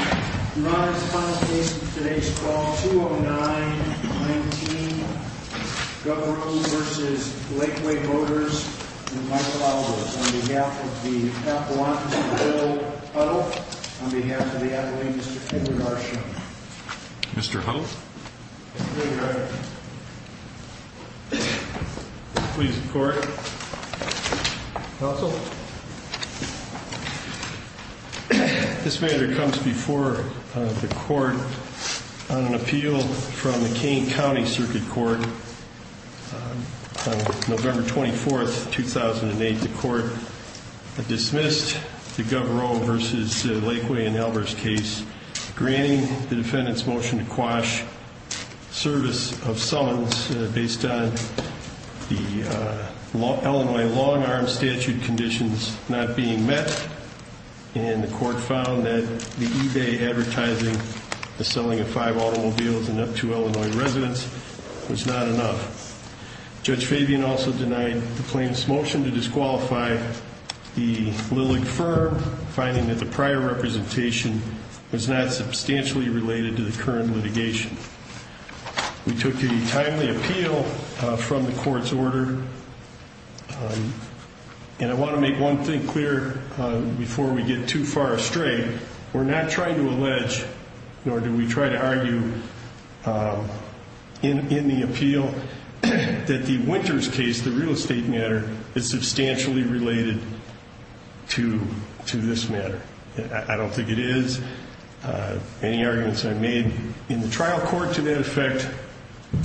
Your Honor, I respond to today's call, 209-19, Gouvreau v. Lakeway Motors, with my followers, on behalf of the Appellant, Mr. Bill Huddle, on behalf of the Advocate, Mr. Edward Arshon. Mr. Huddle. Mr. Huddle, Your Honor. Please report. Counsel. This matter comes before the Court on an appeal from the Kane County Circuit Court. On November 24, 2008, the Court dismissed the Gouvreau v. Lakeway and Albers case, granting the defendant's motion to quash service of summons based on the Illinois long-arm statute conditions not being met. And the Court found that the eBay advertising the selling of five automobiles to Illinois residents was not enough. Judge Fabian also denied the plaintiff's motion to disqualify the Lilick firm, finding that the prior representation was not substantially related to the current litigation. We took a timely appeal from the Court's order, and I want to make one thing clear before we get too far astray. We're not trying to allege, nor do we try to argue in the appeal, that the Winters case, the real estate matter, is substantially related to this matter. I don't think it is. Any arguments I've made in the trial court to that effect,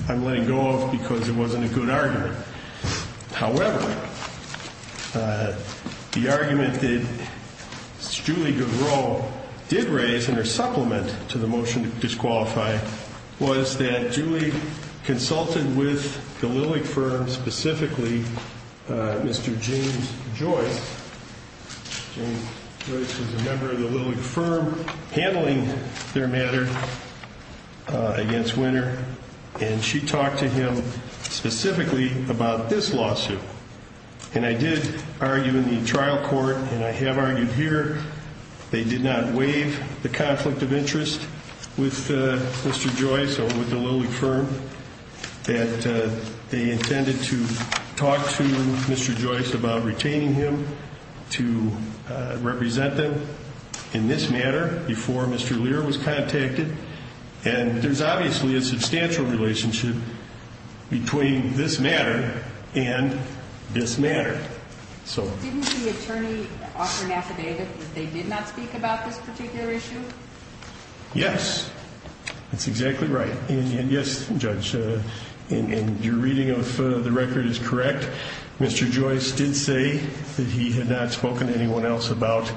I'm letting go of because it wasn't a good argument. However, the argument that Julie Gouvreau did raise in her supplement to the motion to disqualify was that Julie consulted with the Lilick firm, specifically Mr. James Joyce. James Joyce was a member of the Lilick firm handling their matter against Winter, and she talked to him specifically about this lawsuit. And I did argue in the trial court, and I have argued here, they did not waive the conflict of interest with Mr. Joyce or with the Lilick firm, that they intended to talk to Mr. Joyce about retaining him to represent them in this matter before Mr. Lear was contacted. And there's obviously a substantial relationship between this matter and this matter. Didn't the attorney offer an affidavit that they did not speak about this particular issue? Yes, that's exactly right. And yes, Judge, in your reading of the record is correct. Mr. Joyce did say that he had not spoken to anyone else about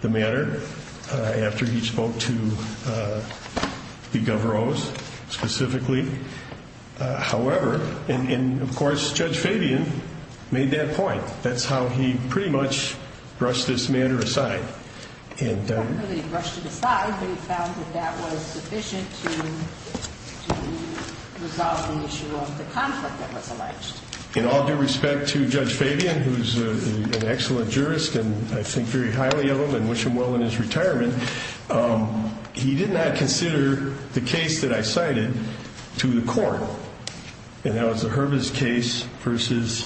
the matter after he spoke to Gouvreau specifically. However, and of course, Judge Fabian made that point. That's how he pretty much brushed this matter aside. He didn't really brush it aside, but he found that that was sufficient to resolve the issue of the conflict that was alleged. In all due respect to Judge Fabian, who's an excellent jurist and I think very highly of him and wish him well in his retirement, he did not consider the case that I cited to the court. And that was the Herbis case versus,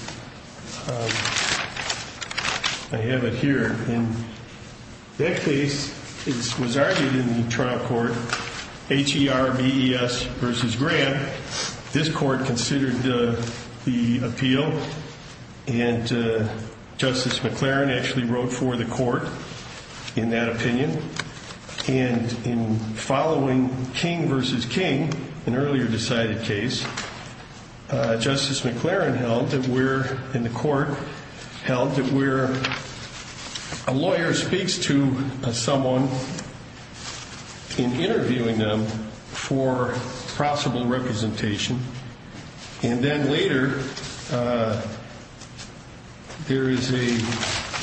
I have it here. In that case, it was argued in the trial court, H-E-R-B-E-S versus Grant. This court considered the appeal and Justice McLaren actually wrote for the court in that opinion. And in following King versus King, an earlier decided case, Justice McLaren held that we're, in the court, held that we're, a lawyer speaks to someone in interviewing them for possible representation. And then later, there is a,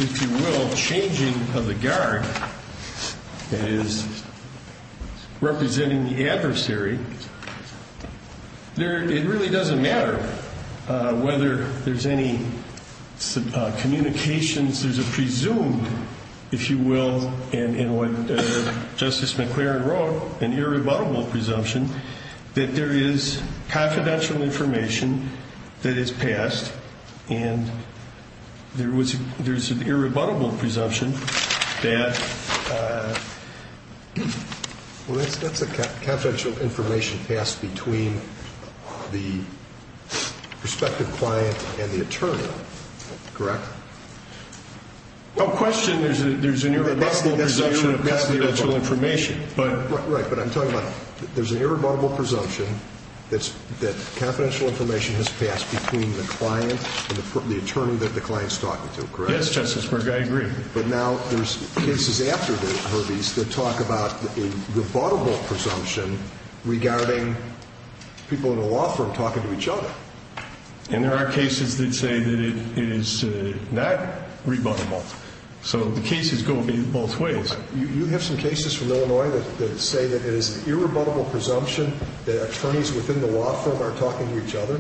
if you will, changing of the guard that is representing the adversary. It really doesn't matter whether there's any communications. There's a presumed, if you will, in what Justice McLaren wrote, an irrebuttable presumption that there is confidential information that is passed. And there was, there's an irrebuttable presumption that... Well, that's a confidential information passed between the prospective client and the attorney, correct? No question there's an irrebuttable presumption of confidential information, but... Yes, Justice McGuire, I agree. But now there's cases after the Herbie's that talk about a rebuttable presumption regarding people in a law firm talking to each other. And there are cases that say that it is not rebuttable. So the cases go both ways. You have some cases from Illinois that say that it is an irrebuttable presumption that attorneys within the law firm are talking to each other?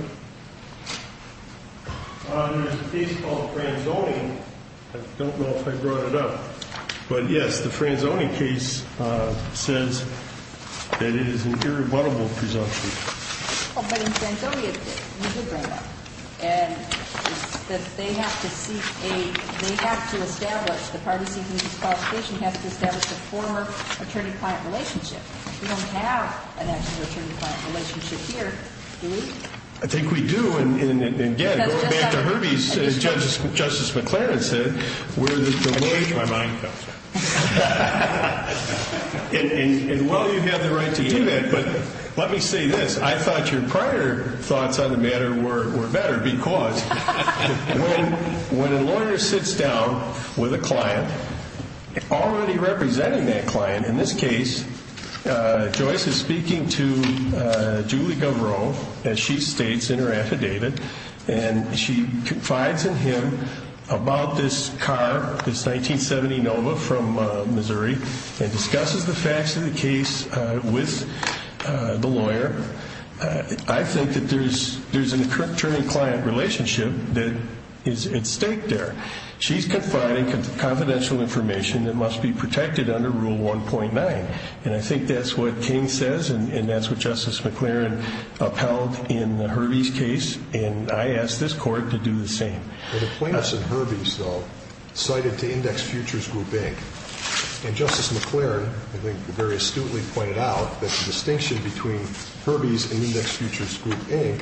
There's a case called Franzoni. I don't know if I brought it up. But yes, the Franzoni case says that it is an irrebuttable presumption. Well, but in Franzoni, you did bring it up. And that they have to seek a, they have to establish, the parties seeking this qualification have to establish a former attorney-client relationship. We don't have an actual attorney-client relationship here, do we? I think we do. And again, going back to Herbie's, as Justice McClaren said, we're the lawyers... I changed my mind about that. And, well, you have the right to do that. But let me say this. I thought your prior thoughts on the matter were better because when a lawyer sits down with a client, already representing that client, in this case, Joyce is speaking to Julie Gavro, as she states in her affidavit, and she confides in him about this car, this 1970 Nova from Missouri, and discusses the facts of the case with the lawyer. I think that there's an attorney-client relationship that is at stake there. She's confiding confidential information that must be protected under Rule 1.9. And I think that's what King says, and that's what Justice McClaren upheld in Herbie's case. And I ask this Court to do the same. Well, the plaintiffs in Herbie's, though, cited to Index Futures Group, Inc. And Justice McClaren, I think, very astutely pointed out that the distinction between Herbie's and Index Futures Group, Inc.,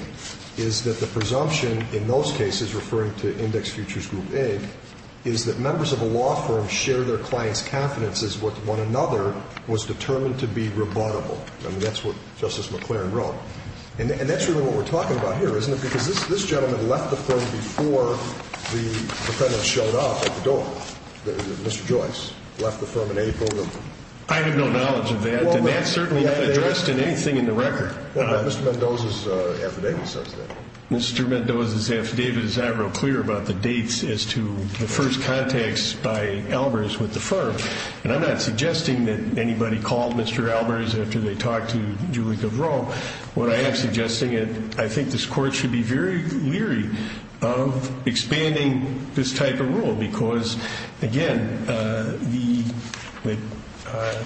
is that the presumption in those cases referring to Index Futures Group, Inc., is that members of a law firm share their clients' confidences with one another, was determined to be rebuttable. I mean, that's what Justice McClaren wrote. And that's really what we're talking about here, isn't it? Because this gentleman left the firm before the defendant showed up at the door. Mr. Joyce left the firm in April. I have no knowledge of that, and that's certainly not addressed in anything in the record. Well, but Mr. Mendoza's affidavit says that. Mr. Mendoza's affidavit is not real clear about the dates as to the first contacts by Albers with the firm. And I'm not suggesting that anybody called Mr. Albers after they talked to Julie Gavro. What I am suggesting is I think this Court should be very leery of expanding this type of rule, because, again, the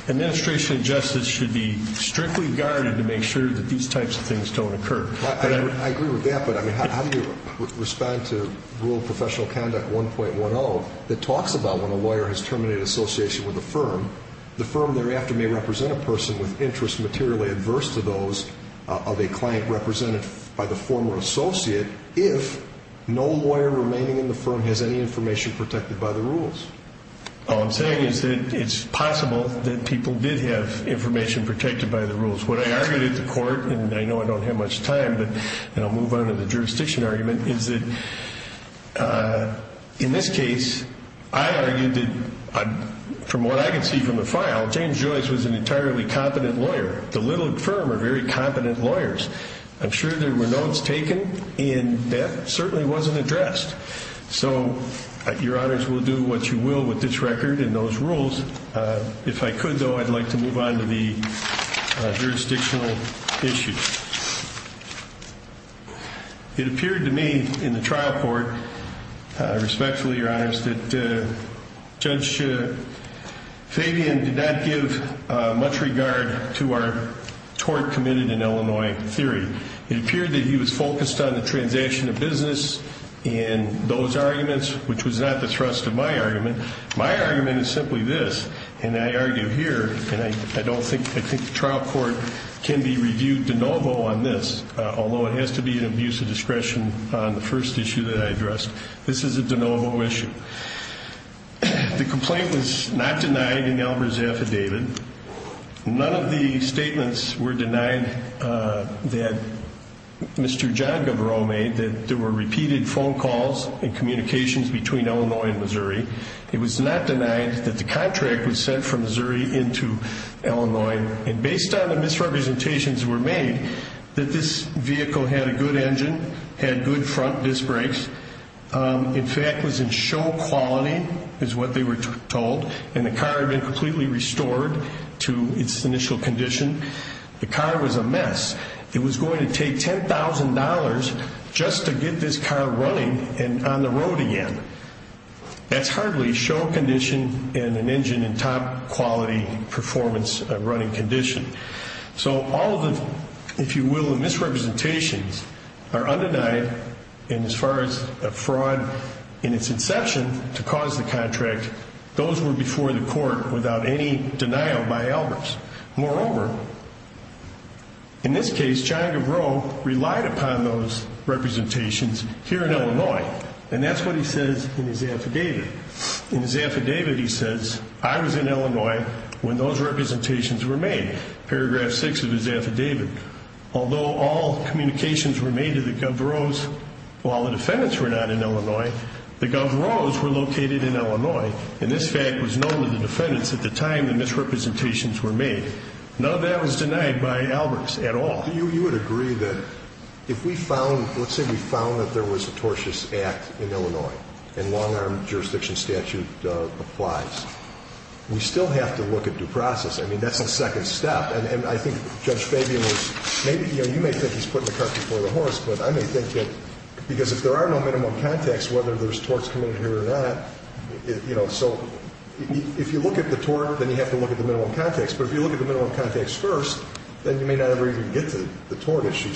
administration of justice should be strictly guarded to make sure that these types of things don't occur. I agree with that, but, I mean, how do you respond to Rule Professional Conduct 1.10 that talks about when a lawyer has terminated association with a firm, the firm thereafter may represent a person with interests materially adverse to those of a client represented by the former associate if no lawyer remaining in the firm has any information protected by the rules? All I'm saying is that it's possible that people did have information protected by the rules. What I argued at the Court, and I know I don't have much time, but I'll move on to the jurisdiction argument, is that in this case, I argued that from what I can see from the file, James Joyce was an entirely competent lawyer. The little firm are very competent lawyers. I'm sure there were notes taken, and that certainly wasn't addressed. So your honors will do what you will with this record and those rules. If I could, though, I'd like to move on to the jurisdictional issues. It appeared to me in the trial court, respectfully, your honors, that Judge Fabian did not give much regard to our tort committed in Illinois theory. It appeared that he was focused on the transaction of business and those arguments, which was not the thrust of my argument. My argument is simply this, and I argue here, and I think the trial court can be reviewed de novo on this, although it has to be an abuse of discretion on the first issue that I addressed. This is a de novo issue. The complaint was not denied in Elmer's affidavit. None of the statements were denied that Mr. John Gavarro made, that there were repeated phone calls and communications between Illinois and Missouri, it was not denied that the contract was sent from Missouri into Illinois, and based on the misrepresentations that were made, that this vehicle had a good engine, had good front disc brakes, in fact was in show quality is what they were told, and the car had been completely restored to its initial condition. The car was a mess. It was going to take $10,000 just to get this car running and on the road again. That's hardly show condition in an engine in top quality performance running condition. So all of the, if you will, the misrepresentations are undenied, and as far as fraud in its inception to cause the contract, those were before the court without any denial by Elmer's. Moreover, in this case, John Gavarro relied upon those representations here in Illinois, and that's what he says in his affidavit. In his affidavit he says, I was in Illinois when those representations were made, paragraph 6 of his affidavit. Although all communications were made to the Gavarro's while the defendants were not in Illinois, the Gavarro's were located in Illinois, and this fact was known to the defendants at the time the misrepresentations were made. None of that was denied by Elmer's at all. Well, you would agree that if we found, let's say we found that there was a tortious act in Illinois and long-arm jurisdiction statute applies, we still have to look at due process. I mean, that's a second step, and I think Judge Fabian was maybe, you know, you may think he's putting the cart before the horse, but I may think that because if there are no minimum contacts whether there's torts committed here or not, you know, so if you look at the tort, then you have to look at the minimum contacts, but if you look at the minimum contacts first, then you may not ever even get to the tort issue.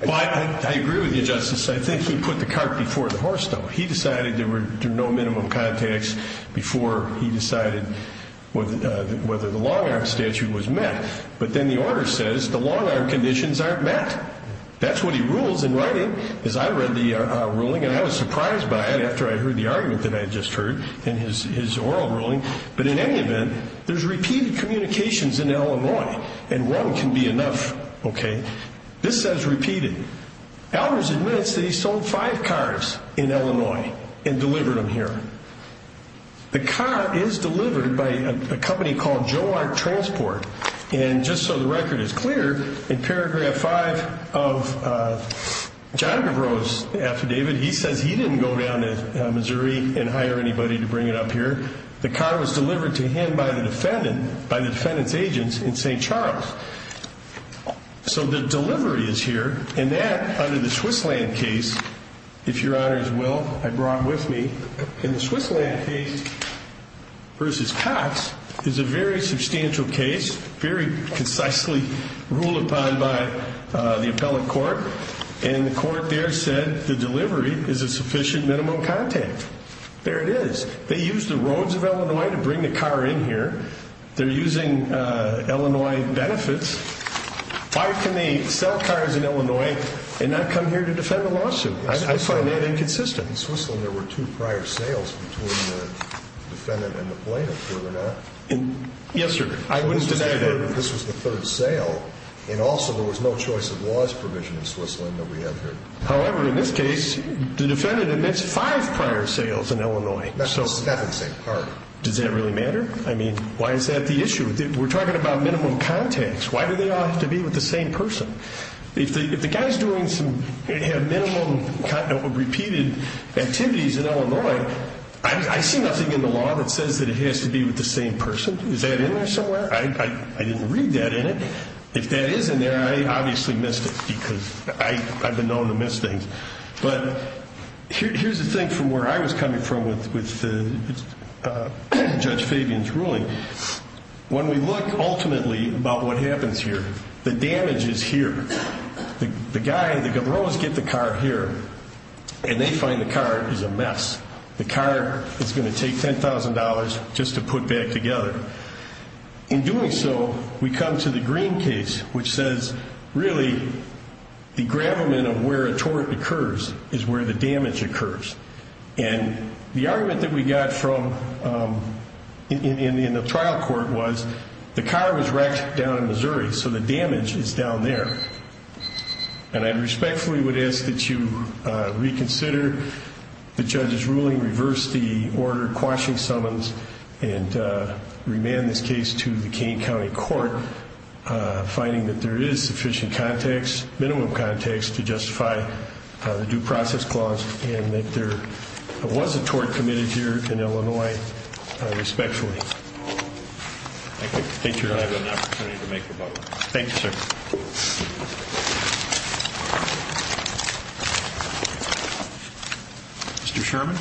But I agree with you, Justice. I think he put the cart before the horse, though. He decided there were no minimum contacts before he decided whether the long-arm statute was met, but then the order says the long-arm conditions aren't met. That's what he rules in writing. As I read the ruling, and I was surprised by it after I heard the argument that I had just heard in his oral ruling, but in any event, there's repeated communications in Illinois, and one can be enough, okay? This says repeated. Elders admits that he sold five cars in Illinois and delivered them here. The car is delivered by a company called Joe Art Transport, and just so the record is clear, in paragraph 5 of John Devereaux's affidavit, he says he didn't go down to Missouri and hire anybody to bring it up here. The car was delivered to him by the defendant, by the defendant's agents in St. Charles. So the delivery is here, and that, under the Switzerland case, if Your Honors will, I brought with me, in the Switzerland case versus Cox is a very substantial case, very concisely ruled upon by the appellate court, and the court there said the delivery is a sufficient minimum contact. There it is. They used the roads of Illinois to bring the car in here. They're using Illinois benefits. Why can they sell cars in Illinois and not come here to defend the lawsuit? I find that inconsistent. In Switzerland, there were two prior sales between the defendant and the plaintiff, were there not? Yes, sir. I wouldn't deny that. This was the third sale, and also there was no choice of laws provision in Switzerland that we have here. However, in this case, the defendant admits five prior sales in Illinois. That's the second same car. Does that really matter? I mean, why is that the issue? We're talking about minimum contacts. Why do they all have to be with the same person? If the guy's doing some minimum repeated activities in Illinois, I see nothing in the law that says that it has to be with the same person. Is that in there somewhere? I didn't read that in it. If that is in there, I obviously missed it because I've been known to miss things. But here's the thing from where I was coming from with Judge Fabian's ruling. When we look ultimately about what happens here, the damage is here. The guy, the governor, always gets the car here, and they find the car is a mess. The car is going to take $10,000 just to put back together. In doing so, we come to the Green case, which says, really, the gravamen of where a tort occurs is where the damage occurs. And the argument that we got in the trial court was the car was wrecked down in Missouri, so the damage is down there. And I respectfully would ask that you reconsider the judge's ruling, reverse the order quashing summons, and remand this case to the Kane County Court, finding that there is sufficient context, minimum context, to justify the due process clause and that there was a tort committed here in Illinois respectfully. Thank you, sir. I have an opportunity to make a vote. Thank you, sir. Mr. Sherman.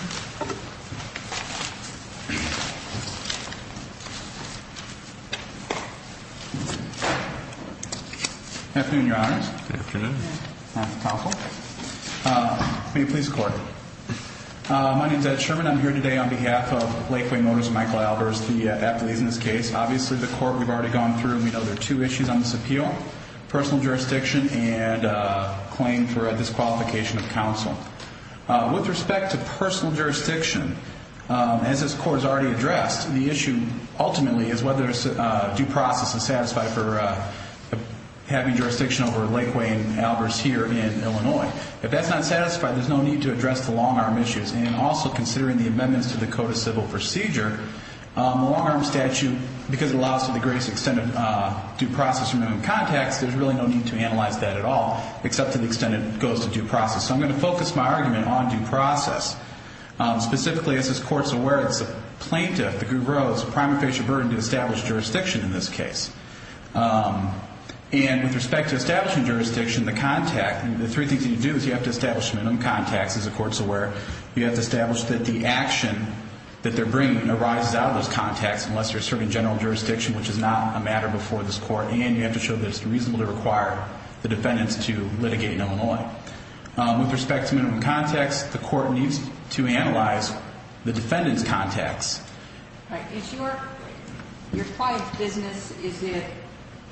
Good afternoon, Your Honors. Good afternoon. May it please the Court. My name is Ed Sherman. I'm here today on behalf of Lakeway Motors and Michael Albers, the affiliates in this case. Obviously, the Court, we've already gone through and we know there are two issues on this appeal, personal jurisdiction and claim for disqualification of counsel. With respect to personal jurisdiction, as this Court has already addressed, the issue ultimately is whether due process is satisfied for having jurisdiction over Lakeway and Albers here in Illinois. If that's not satisfied, there's no need to address the long-arm issues. And also considering the amendments to the Code of Civil Procedure, the long-arm statute, because it allows for the greatest extent of due process from minimum context, there's really no need to analyze that at all except to the extent it goes to due process. So I'm going to focus my argument on due process. Specifically, as this Court is aware, it's a plaintiff, the guru, it's a prima facie burden to establish jurisdiction in this case. And with respect to establishing jurisdiction, the contact, the three things that you do is you have to establish minimum context, as the Court's aware. You have to establish that the action that they're bringing arises out of those contacts unless they're serving general jurisdiction, which is not a matter before this Court. And you have to show that it's reasonable to require the defendants to litigate in Illinois. With respect to minimum context, the Court needs to analyze the defendant's contacts. Your client's business, is it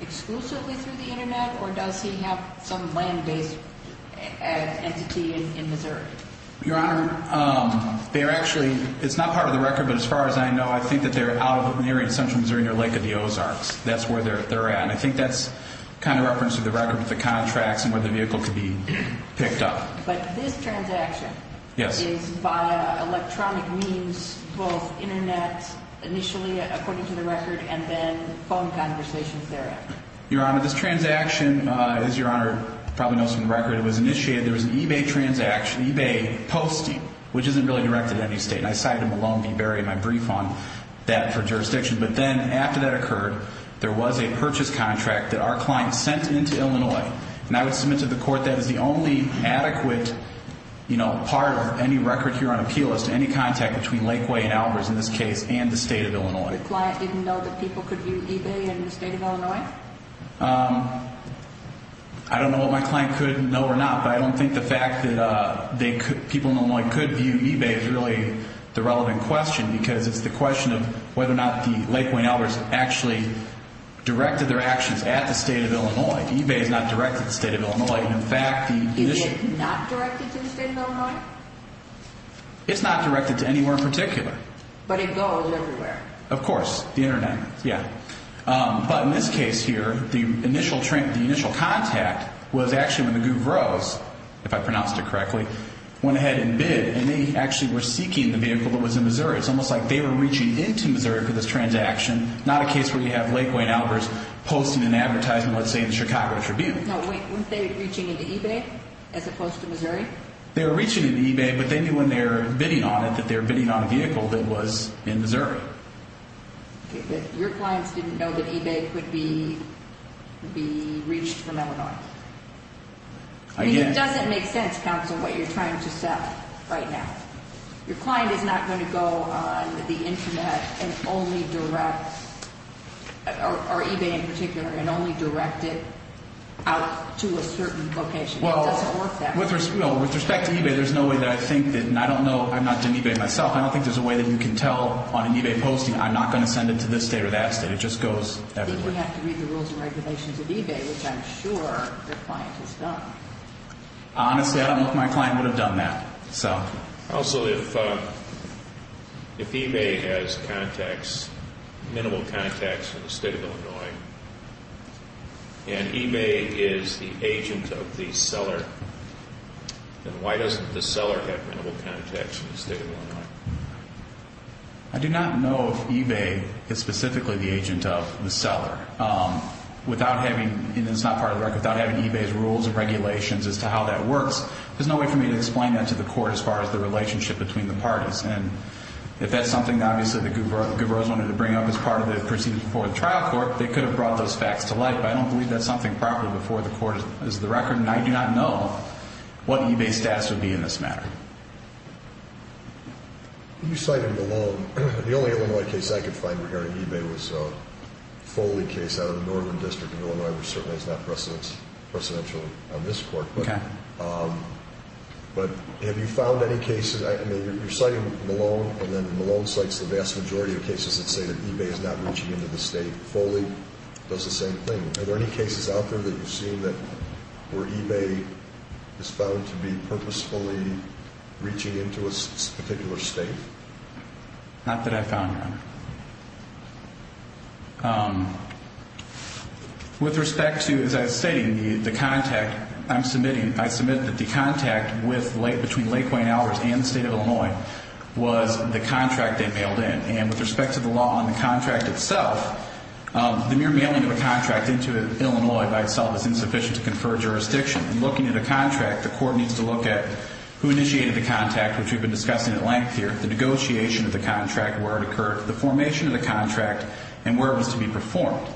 exclusively through the Internet, or does he have some land-based entity in Missouri? Your Honor, they're actually, it's not part of the record, but as far as I know, I think that they're out of an area in central Missouri near Lake of the Ozarks. That's where they're at. And I think that's kind of referenced in the record with the contracts and where the vehicle could be picked up. But this transaction is via electronic means, both Internet initially, according to the record, and then phone conversations thereafter. Your Honor, this transaction, as Your Honor probably knows from the record, it was initiated, there was an eBay transaction, eBay posting, which isn't really directed at any state. And I cited Malone v. Berry in my brief on that for jurisdiction. But then after that occurred, there was a purchase contract that our client sent into Illinois, and I would submit to the court that is the only adequate part of any record here on appeal as to any contact between Lakeway and Alvarez in this case and the state of Illinois. Your client didn't know that people could view eBay in the state of Illinois? I don't know what my client could know or not, but I don't think the fact that people in Illinois could view eBay is really the relevant question because it's the question of whether or not Lakeway and Alvarez actually directed their actions at the state of Illinois. eBay is not directed at the state of Illinois. Is it not directed to the state of Illinois? It's not directed to anywhere in particular. But it goes everywhere. Of course, the Internet, yeah. But in this case here, the initial contact was actually when the Gouvros, if I pronounced it correctly, went ahead and bid, and they actually were seeking the vehicle that was in Missouri. It's almost like they were reaching into Missouri for this transaction, not a case where you have Lakeway and Alvarez posting an advertisement, let's say, in the Chicago Tribune. No, wait. Weren't they reaching into eBay as opposed to Missouri? They were reaching into eBay, but they knew when they were bidding on it that they were bidding on a vehicle that was in Missouri. Okay, but your clients didn't know that eBay could be reached from Illinois. I guess. It doesn't make sense, counsel, what you're trying to sell right now. Your client is not going to go on the Internet and only direct, or eBay in particular, and only direct it out to a certain location. It doesn't work that way. Well, with respect to eBay, there's no way that I think that, and I don't know. I've not done eBay myself. I don't think there's a way that you can tell on an eBay posting, I'm not going to send it to this state or that state. It just goes everywhere. Then you have to read the rules and regulations of eBay, which I'm sure your client has done. Honestly, I don't know if my client would have done that. Also, if eBay has contacts, minimal contacts in the state of Illinois, and eBay is the agent of the seller, then why doesn't the seller have minimal contacts in the state of Illinois? I do not know if eBay is specifically the agent of the seller. Without having, and it's not part of the record, without having eBay's rules and regulations as to how that works, there's no way for me to explain that to the court as far as the relationship between the parties. If that's something, obviously, that Guberose wanted to bring up as part of the proceedings before the trial court, they could have brought those facts to light, but I don't believe that's something proper before the court is the record, and I do not know what eBay's status would be in this matter. You cited the loan. The only Illinois case I could find regarding eBay was a Foley case out of the Northern District of Illinois, which certainly is not precedential on this court. Okay. But have you found any cases, I mean, you're citing the loan, and then the loan cites the vast majority of cases that say that eBay is not reaching into the state. Foley does the same thing. Are there any cases out there that you've seen that where eBay is found to be purposefully reaching into a particular state? Not that I've found, no. Okay. With respect to, as I was stating, the contact I'm submitting, I submit that the contact between Lakeway and Alvarez and the state of Illinois was the contract they mailed in, and with respect to the law on the contract itself, the mere mailing of a contract into Illinois by itself is insufficient to confer jurisdiction. In looking at a contract, the court needs to look at who initiated the contact, which we've been discussing at length here, the negotiation of the contract, where it occurred, the formation of the contract, and where it was to be performed.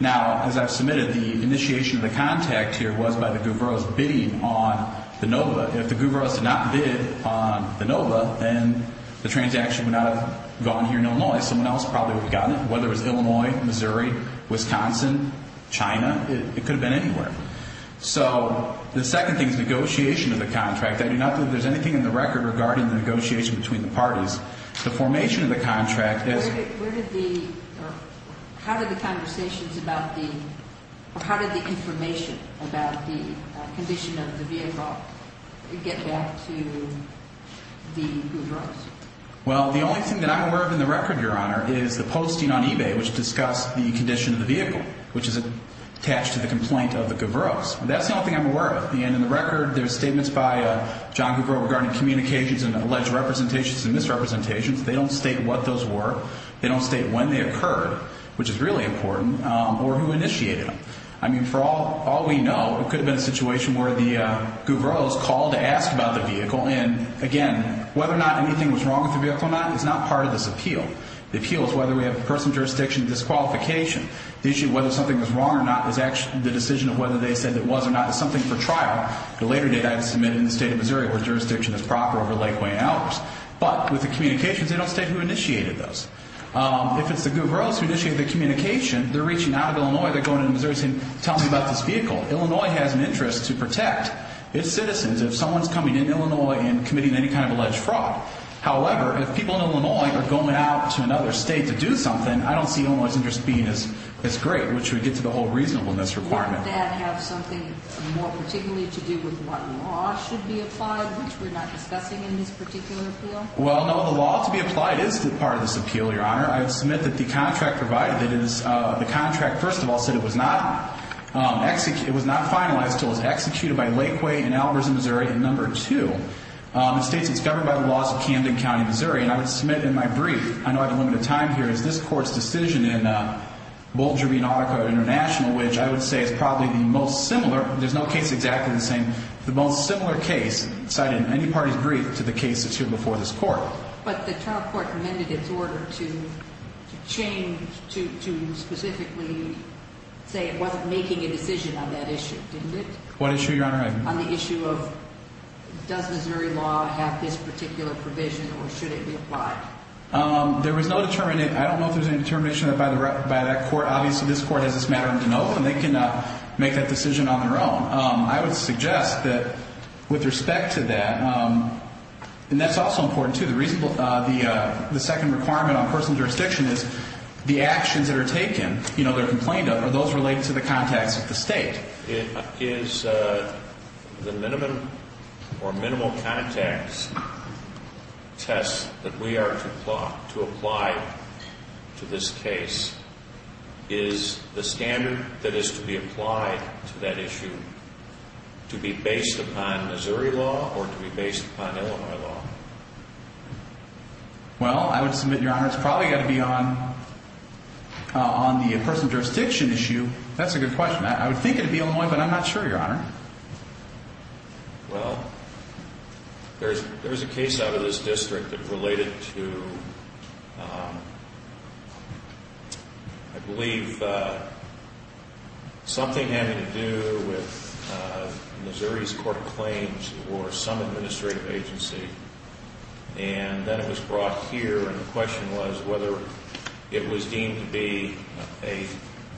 Now, as I've submitted, the initiation of the contact here was by the Guveros bidding on the NOVA. If the Guveros did not bid on the NOVA, then the transaction would not have gone here in Illinois. Someone else probably would have gotten it, whether it was Illinois, Missouri, Wisconsin, China. It could have been anywhere. So the second thing is negotiation of the contract. I do not believe there's anything in the record regarding the negotiation between the parties. The formation of the contract is ñ Where did the ñ how did the conversations about the ñ or how did the information about the condition of the vehicle get back to the Guveros? Well, the only thing that I'm aware of in the record, Your Honor, is the posting on eBay, which discussed the condition of the vehicle, which is attached to the complaint of the Guveros. That's the only thing I'm aware of. And in the record, there's statements by John Guvero regarding communications and alleged representations and misrepresentations. They don't state what those were. They don't state when they occurred, which is really important, or who initiated them. I mean, for all we know, it could have been a situation where the Guveros called to ask about the vehicle. And, again, whether or not anything was wrong with the vehicle or not is not part of this appeal. The appeal is whether we have personal jurisdiction disqualification. The issue of whether something was wrong or not is actually the decision of whether they said it was or not. It's something for trial. The later date, I had to submit it in the state of Missouri, where jurisdiction is proper over Lake Wayne hours. But with the communications, they don't state who initiated those. If it's the Guveros who initiated the communication, they're reaching out of Illinois. They're going into Missouri saying, tell me about this vehicle. Illinois has an interest to protect its citizens if someone's coming in Illinois and committing any kind of alleged fraud. However, if people in Illinois are going out to another state to do something, I don't see Illinois's interest being as great, which would get to the whole reasonableness requirement. Wouldn't that have something more particularly to do with what law should be applied, which we're not discussing in this particular appeal? Well, no. The law to be applied is part of this appeal, Your Honor. I submit that the contract provided, that is, the contract, first of all, said it was not finalized until it was executed by Lake Wayne in Albertson, Missouri. And number two, it states it's governed by the laws of Camden County, Missouri. And I would submit in my brief, I know I have a limited time here, is this Court's decision in Boulder v. Nautico International, which I would say is probably the most similar. There's no case exactly the same. The most similar case cited in any party's brief to the case that's here before this Court. But the trial court amended its order to change, to specifically say it wasn't making a decision on that issue, didn't it? What issue, Your Honor? On the issue of does Missouri law have this particular provision or should it be applied? There was no determination. I don't know if there's any determination by that court. Obviously, this court has this matter in the know, and they can make that decision on their own. I would suggest that with respect to that, and that's also important, too, the second requirement on personal jurisdiction is the actions that are taken, you know, that are complained of, are those related to the contacts of the state. Is the minimum or minimal contacts test that we are to apply to this case, is the standard that is to be applied to that issue to be based upon Missouri law or to be based upon Illinois law? Well, I would submit, Your Honor, it's probably got to be on the personal jurisdiction issue. That's a good question. I would think it would be Illinois, but I'm not sure, Your Honor. Well, there's a case out of this district that related to, I believe, something having to do with Missouri's court claims or some administrative agency. And then it was brought here, and the question was whether it was deemed to be a,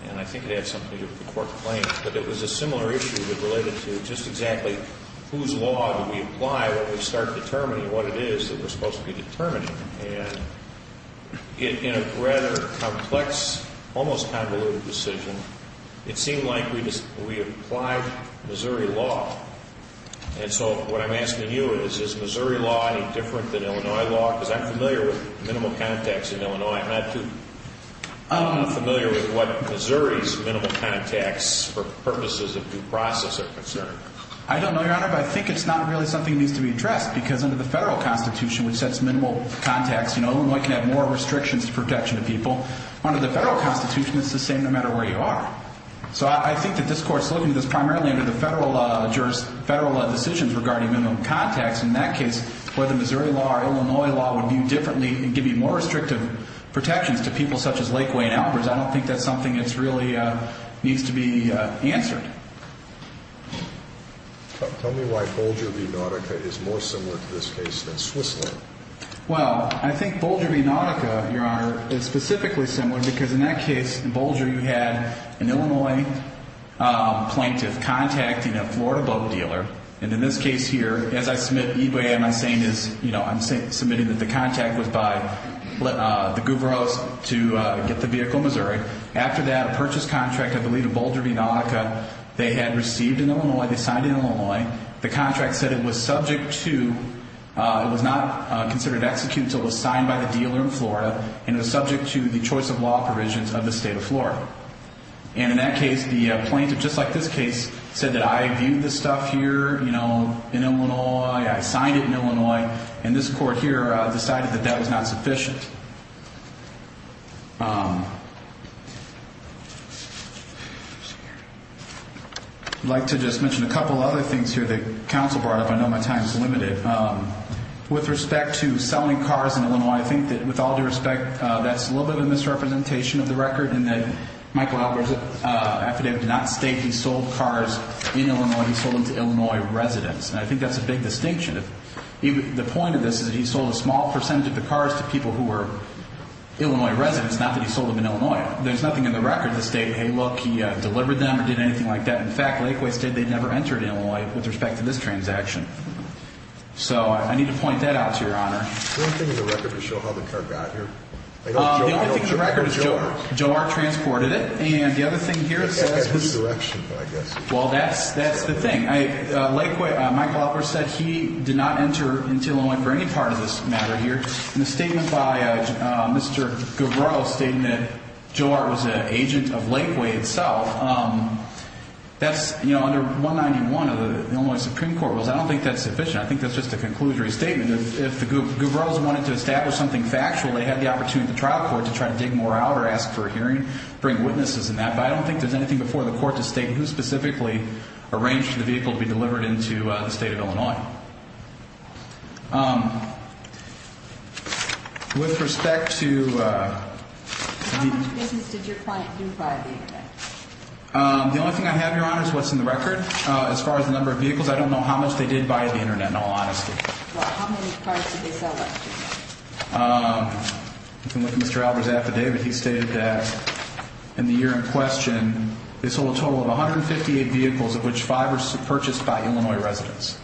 and I think it had something to do with the court claims, but it was a similar issue that related to just exactly whose law do we apply when we start determining what it is that we're supposed to be determining. And in a rather complex, almost convoluted decision, it seemed like we applied Missouri law. And so what I'm asking you is, is Missouri law any different than Illinois law? Because I'm familiar with minimal contacts in Illinois. I'm not too familiar with what Missouri's minimal contacts for purposes of due process are concerned. I don't know, Your Honor, but I think it's not really something that needs to be addressed, because under the federal Constitution, which sets minimal contacts, you know, Illinois can have more restrictions to protection of people. Under the federal Constitution, it's the same no matter where you are. So I think that this Court's looking at this primarily under the federal decisions regarding minimal contacts. In that case, whether Missouri law or Illinois law would view differently and give you more restrictive protections to people such as Lakeway and Alpers, I don't think that's something that really needs to be answered. Tell me why Bolger v. Nautica is more similar to this case than Switzerland. Well, I think Bolger v. Nautica, Your Honor, is specifically similar because in that case, in Bolger, you had an Illinois plaintiff contacting a Florida boat dealer. And in this case here, as I submit eBay, what I'm saying is, you know, I'm submitting that the contact was by the Guberos to get the vehicle in Missouri. After that, a purchase contract, I believe, of Bolger v. Nautica, they had received in Illinois, they signed in Illinois. The contract said it was subject to, it was not considered executed until it was signed by the dealer in Florida, and it was subject to the choice of law provisions of the state of Florida. And in that case, the plaintiff, just like this case, said that I viewed this stuff here, you know, in Illinois. I signed it in Illinois. And this Court here decided that that was not sufficient. I'd like to just mention a couple other things here that counsel brought up. I know my time is limited. With respect to selling cars in Illinois, I think that with all due respect, that's a little bit of a misrepresentation of the record in that Michael Albers' affidavit did not state he sold cars in Illinois. He sold them to Illinois residents. And I think that's a big distinction. The point of this is that he sold a small percentage of the cars to people who were Illinois residents, not that he sold them in Illinois. There's nothing in the record that stated, hey, look, he delivered them or did anything like that. In fact, Lakewood stated they'd never entered Illinois with respect to this transaction. So I need to point that out to Your Honor. Is there anything in the record to show how the car got here? The only thing in the record is Joe. Joe R. transported it. And the other thing here says who's. It had his direction, I guess. Well, that's the thing. Michael Albers said he did not enter into Illinois for any part of this matter here. And the statement by Mr. Gubrow stating that Joe R. was an agent of Lakewood itself, that's under 191 of the Illinois Supreme Court rules. I don't think that's sufficient. I think that's just a conclusory statement. If the Gubrows wanted to establish something factual, they had the opportunity at the trial court to try to dig more out or ask for a hearing, bring witnesses in that. But I don't think there's anything before the court to state who specifically arranged for the vehicle to be delivered into the state of Illinois. With respect to... How much business did your client do via the Internet? The only thing I have, Your Honor, is what's in the record. As far as the number of vehicles, I don't know how much they did via the Internet, in all honesty. Well, how many cars did they sell after that? With Mr. Albert's affidavit, he stated that in the year in question, they sold a total of 158 vehicles, of which five were purchased by Illinois residents.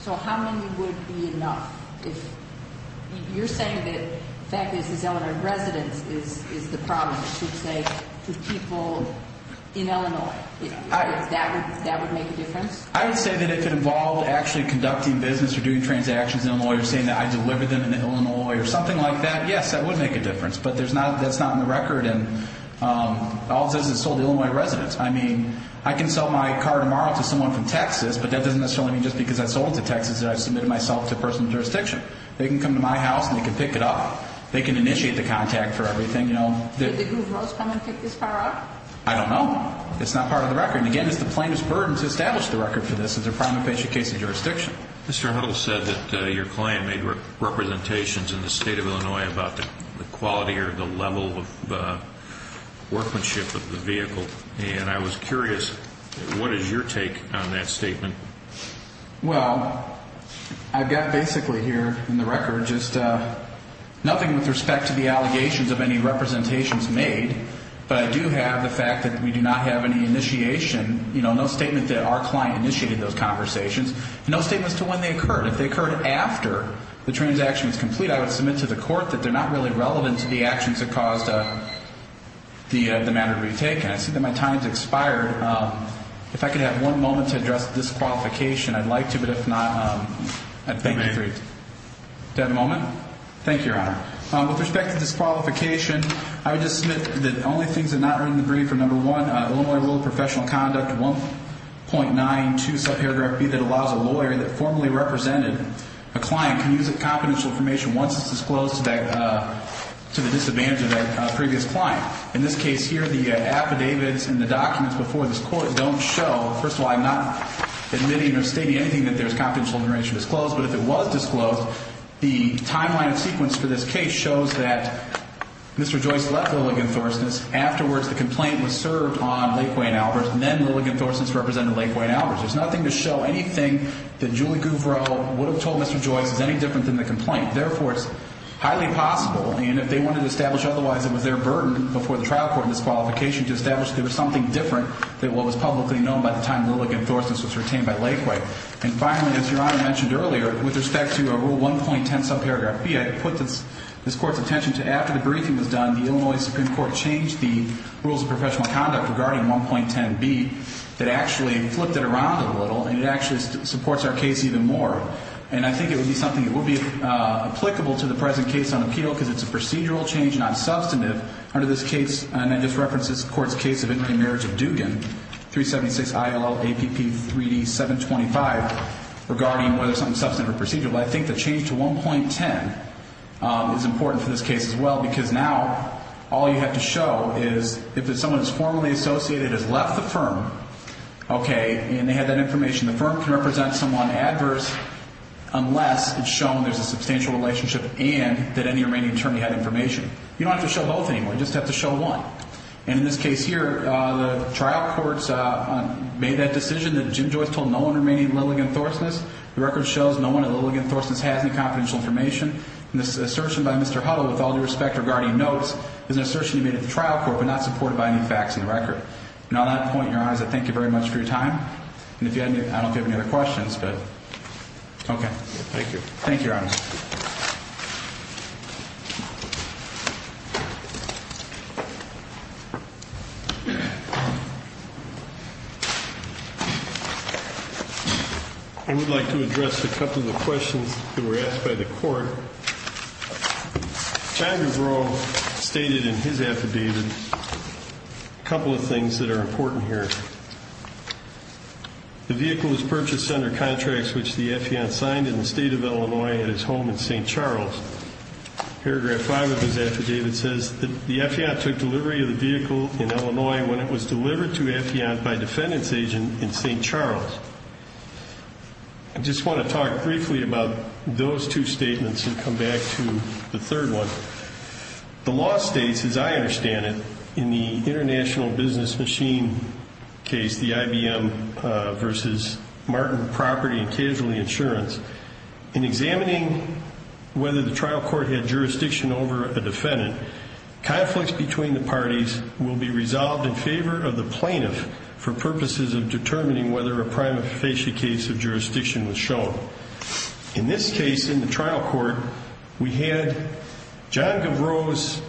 So how many would be enough? You're saying that the fact that this is Illinois residents is the problem, you should say, with people in Illinois. That would make a difference? I would say that if it involved actually conducting business or doing transactions in Illinois or saying that I delivered them in Illinois or something like that, yes, that would make a difference. But that's not in the record. All it says is it sold to Illinois residents. I mean, I can sell my car tomorrow to someone from Texas, but that doesn't necessarily mean just because I sold it to Texas that I've submitted myself to personal jurisdiction. They can come to my house and they can pick it up. They can initiate the contact for everything. Did the group Rose come and pick this car up? I don't know. It's not part of the record. And, again, it's the plainest burden to establish the record for this as a primary patient case of jurisdiction. Mr. Huddle said that your client made representations in the state of Illinois about the quality or the level of workmanship of the vehicle. And I was curious, what is your take on that statement? Well, I've got basically here in the record just nothing with respect to the allegations of any representations made. But I do have the fact that we do not have any initiation, you know, no statement that our client initiated those conversations, no statements to when they occurred. If they occurred after the transaction was complete, I would submit to the court that they're not really relevant to the actions that caused the matter to be taken. I see that my time has expired. If I could have one moment to address disqualification, I'd like to, but if not, I'd thank you for your time. Do I have a moment? Thank you, Your Honor. With respect to disqualification, I would just submit that the only things that are not in the brief are, number one, Illinois Rule of Professional Conduct 1.92, sub-paragraph B, that allows a lawyer that formally represented a client can use confidential information once it's disclosed to the disadvantage of that previous client. In this case here, the affidavits and the documents before this court don't show. First of all, I'm not admitting or stating anything that there's confidential information disclosed. But if it was disclosed, the timeline and sequence for this case shows that Mr. Joyce left Lilligan-Thorsness. Afterwards, the complaint was served on Lakeway and Alberts, and then Lilligan-Thorsness represented Lakeway and Alberts. There's nothing to show anything that Julie Gouvreau would have told Mr. Joyce is any different than the complaint. Therefore, it's highly possible, and if they wanted to establish otherwise, it was their burden before the trial court in this qualification to establish there was something different than what was publicly known by the time Lilligan-Thorsness was retained by Lakeway. And finally, as Your Honor mentioned earlier, with respect to Rule 1.10, sub-paragraph B, I put this court's attention to after the briefing was done, the Illinois Supreme Court changed the rules of professional conduct regarding 1.10B. It actually flipped it around a little, and it actually supports our case even more. And I think it would be something that would be applicable to the present case on appeal because it's a procedural change, not substantive. Under this case, and I just referenced this court's case of inmate marriage of Dugan, 376 ILL APP 3D725, regarding whether something substantive or procedural. I think the change to 1.10 is important for this case as well because now all you have to show is if someone is formally associated has left the firm, okay, and they had that information, the firm can represent someone adverse unless it's shown there's a substantial relationship and that any remaining attorney had information. You don't have to show both anymore. You just have to show one. And in this case here, the trial courts made that decision that Jim Joyce told no one remaining in Lilligan-Thorsness. The record shows no one at Lilligan-Thorsness has any confidential information. And this assertion by Mr. Hutto with all due respect regarding notes is an assertion he made at the trial court but not supported by any facts in the record. And on that point, Your Honor, I thank you very much for your time. And if you have any other questions, but, okay. Thank you. Thank you, Your Honor. I would like to address a couple of questions that were asked by the court. John Dubrow stated in his affidavit a couple of things that are important here. The vehicle was purchased under contracts which the affiant signed in the state of Illinois at his home in St. Charles. Paragraph 5 of his affidavit says that the affiant took delivery of the vehicle in Illinois when it was delivered to affiant by defendant's agent in St. Charles. I just want to talk briefly about those two statements and come back to the third one. The law states, as I understand it, in the International Business Machine case, the IBM versus Martin Property and Casualty Insurance, in examining whether the trial court had jurisdiction over a defendant, conflicts between the parties will be resolved in favor of the plaintiff for purposes of determining whether a prima facie case of jurisdiction was shown. In this case, in the trial court, we had John Dubrow's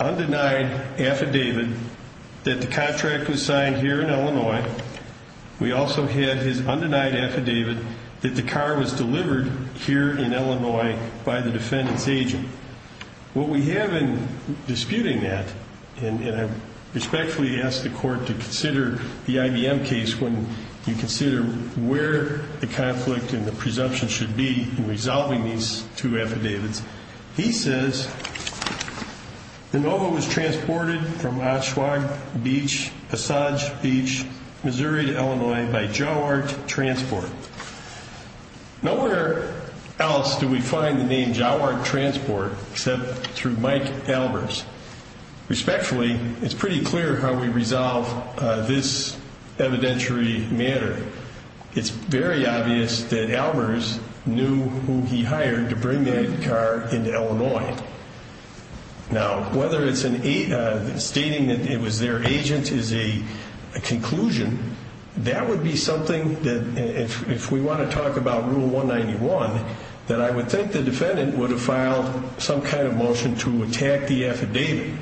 undenied affidavit that the contract was signed here in Illinois. We also had his undenied affidavit that the car was delivered here in Illinois by the defendant's agent. What we have in disputing that, and I respectfully ask the court to consider the IBM case when you consider where the conflict and the presumption should be in resolving these two affidavits. He says, the Nova was transported from Oshawa Beach, Passage Beach, Missouri to Illinois by Jowart Transport. Nowhere else do we find the name Jowart Transport except through Mike Albers. Respectfully, it's pretty clear how we resolve this evidentiary matter. It's very obvious that Albers knew who he hired to bring that car into Illinois. Now, whether it's stating that it was their agent is a conclusion, that would be something that if we want to talk about Rule 191, that I would think the defendant would have filed some kind of motion to attack the affidavit.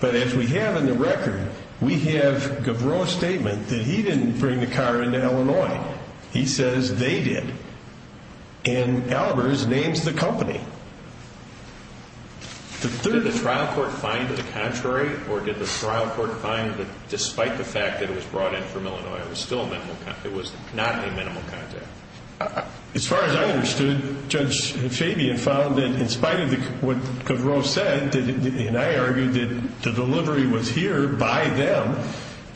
But as we have in the record, we have Gavreau's statement that he didn't bring the car into Illinois. He says they did. And Albers names the company. Did the trial court find the contrary, or did the trial court find that despite the fact that it was brought in from Illinois, it was not a minimal contact? As far as I understood, Judge Fabian found that in spite of what Gavreau said, and I argued that the delivery was here by them,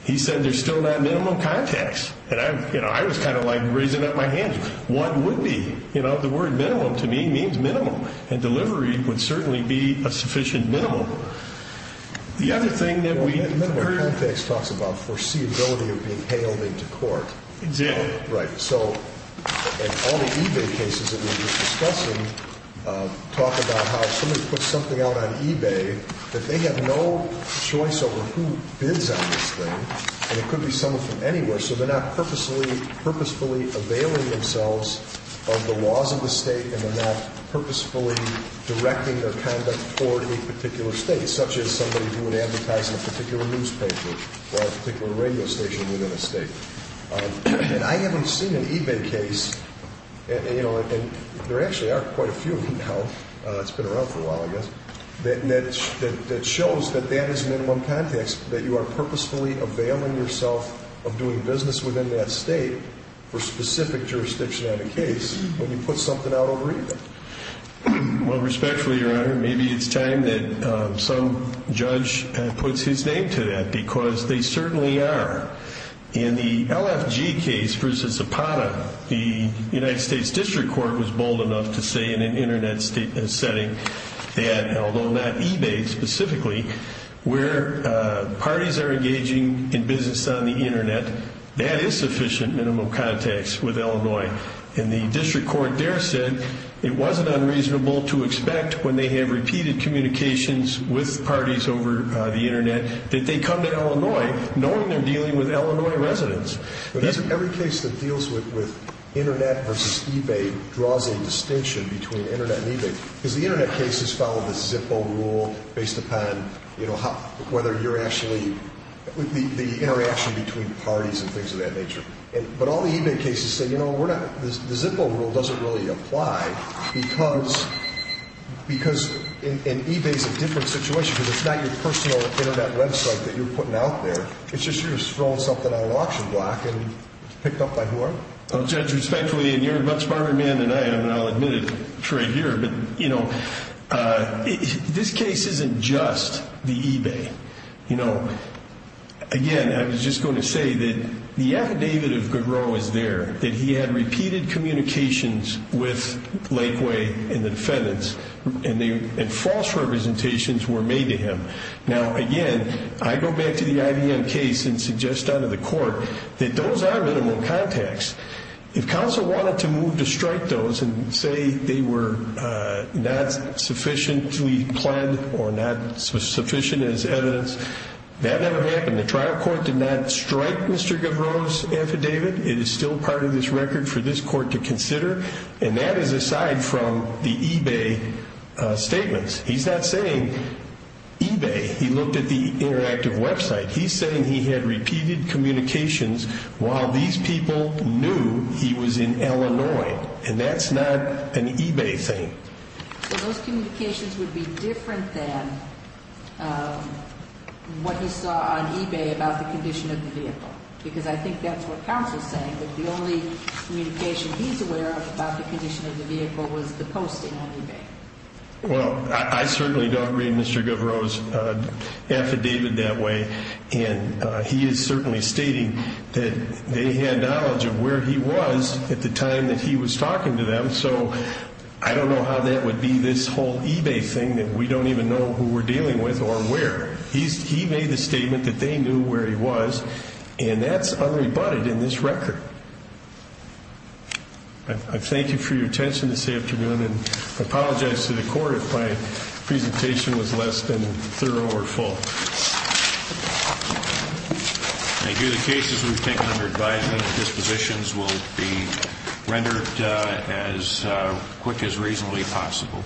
he said there's still not minimal contacts. And I was kind of like raising up my hand. What would be? The word minimum to me means minimum, and delivery would certainly be a sufficient minimum. The other thing that we... Minimal contacts talks about foreseeability of being hailed into court. Exactly. Right. So all the eBay cases that we were discussing talk about how somebody puts something out on eBay, that they have no choice over who bids on this thing, and it could be someone from anywhere. So they're not purposefully availing themselves of the laws of the State, and they're not purposefully directing their conduct toward a particular State, such as somebody who would advertise in a particular newspaper or a particular radio station within a State. And I haven't seen an eBay case, and there actually are quite a few now. It's been around for a while, I guess, that shows that that is minimum contacts, that you are purposefully availing yourself of doing business within that State for specific jurisdiction on a case when you put something out over eBay. Well, respectfully, Your Honor, maybe it's time that some judge puts his name to that because they certainly are. In the LFG case versus Zapata, the United States District Court was bold enough to say in an Internet setting that although not eBay specifically, where parties are engaging in business on the Internet, that is sufficient minimum contacts with Illinois. And the District Court there said it wasn't unreasonable to expect, when they have repeated communications with parties over the Internet, that they come to Illinois knowing they're dealing with Illinois residents. Every case that deals with Internet versus eBay draws a distinction between Internet and eBay because the Internet cases follow the Zippo rule based upon whether you're actually, the interaction between parties and things of that nature. But all the eBay cases say, you know, the Zippo rule doesn't really apply because eBay's a different situation because it's not your personal Internet website that you're putting out there. It's just you're throwing something out at auction block and picked up by whoever. Well, Judge, respectfully, and you're a much smarter man than I am, and I'll admit it right here, but, you know, this case isn't just the eBay. You know, again, I was just going to say that the affidavit of Garreau is there, that he had repeated communications with Lakeway and the defendants, and false representations were made to him. Now, again, I go back to the IBM case and suggest under the court that those are minimal contacts. If counsel wanted to move to strike those and say they were not sufficiently planned or not sufficient as evidence, that never happened. The trial court did not strike Mr. Garreau's affidavit. It is still part of this record for this court to consider, and that is aside from the eBay statements. He's not saying eBay. He looked at the interactive website. He's saying he had repeated communications while these people knew he was in Illinois, and that's not an eBay thing. So those communications would be different than what he saw on eBay about the condition of the vehicle because I think that's what counsel is saying, that the only communication he's aware of about the condition of the vehicle was the posting on eBay. Well, I certainly don't read Mr. Garreau's affidavit that way, and he is certainly stating that they had knowledge of where he was at the time that he was talking to them, so I don't know how that would be this whole eBay thing that we don't even know who we're dealing with or where. He made the statement that they knew where he was, and that's unrebutted in this record. I thank you for your attention this afternoon, and I apologize to the court if my presentation was less than thorough or full. Thank you. The cases we've taken under advisement and dispositions will be rendered as quick as reasonably possible.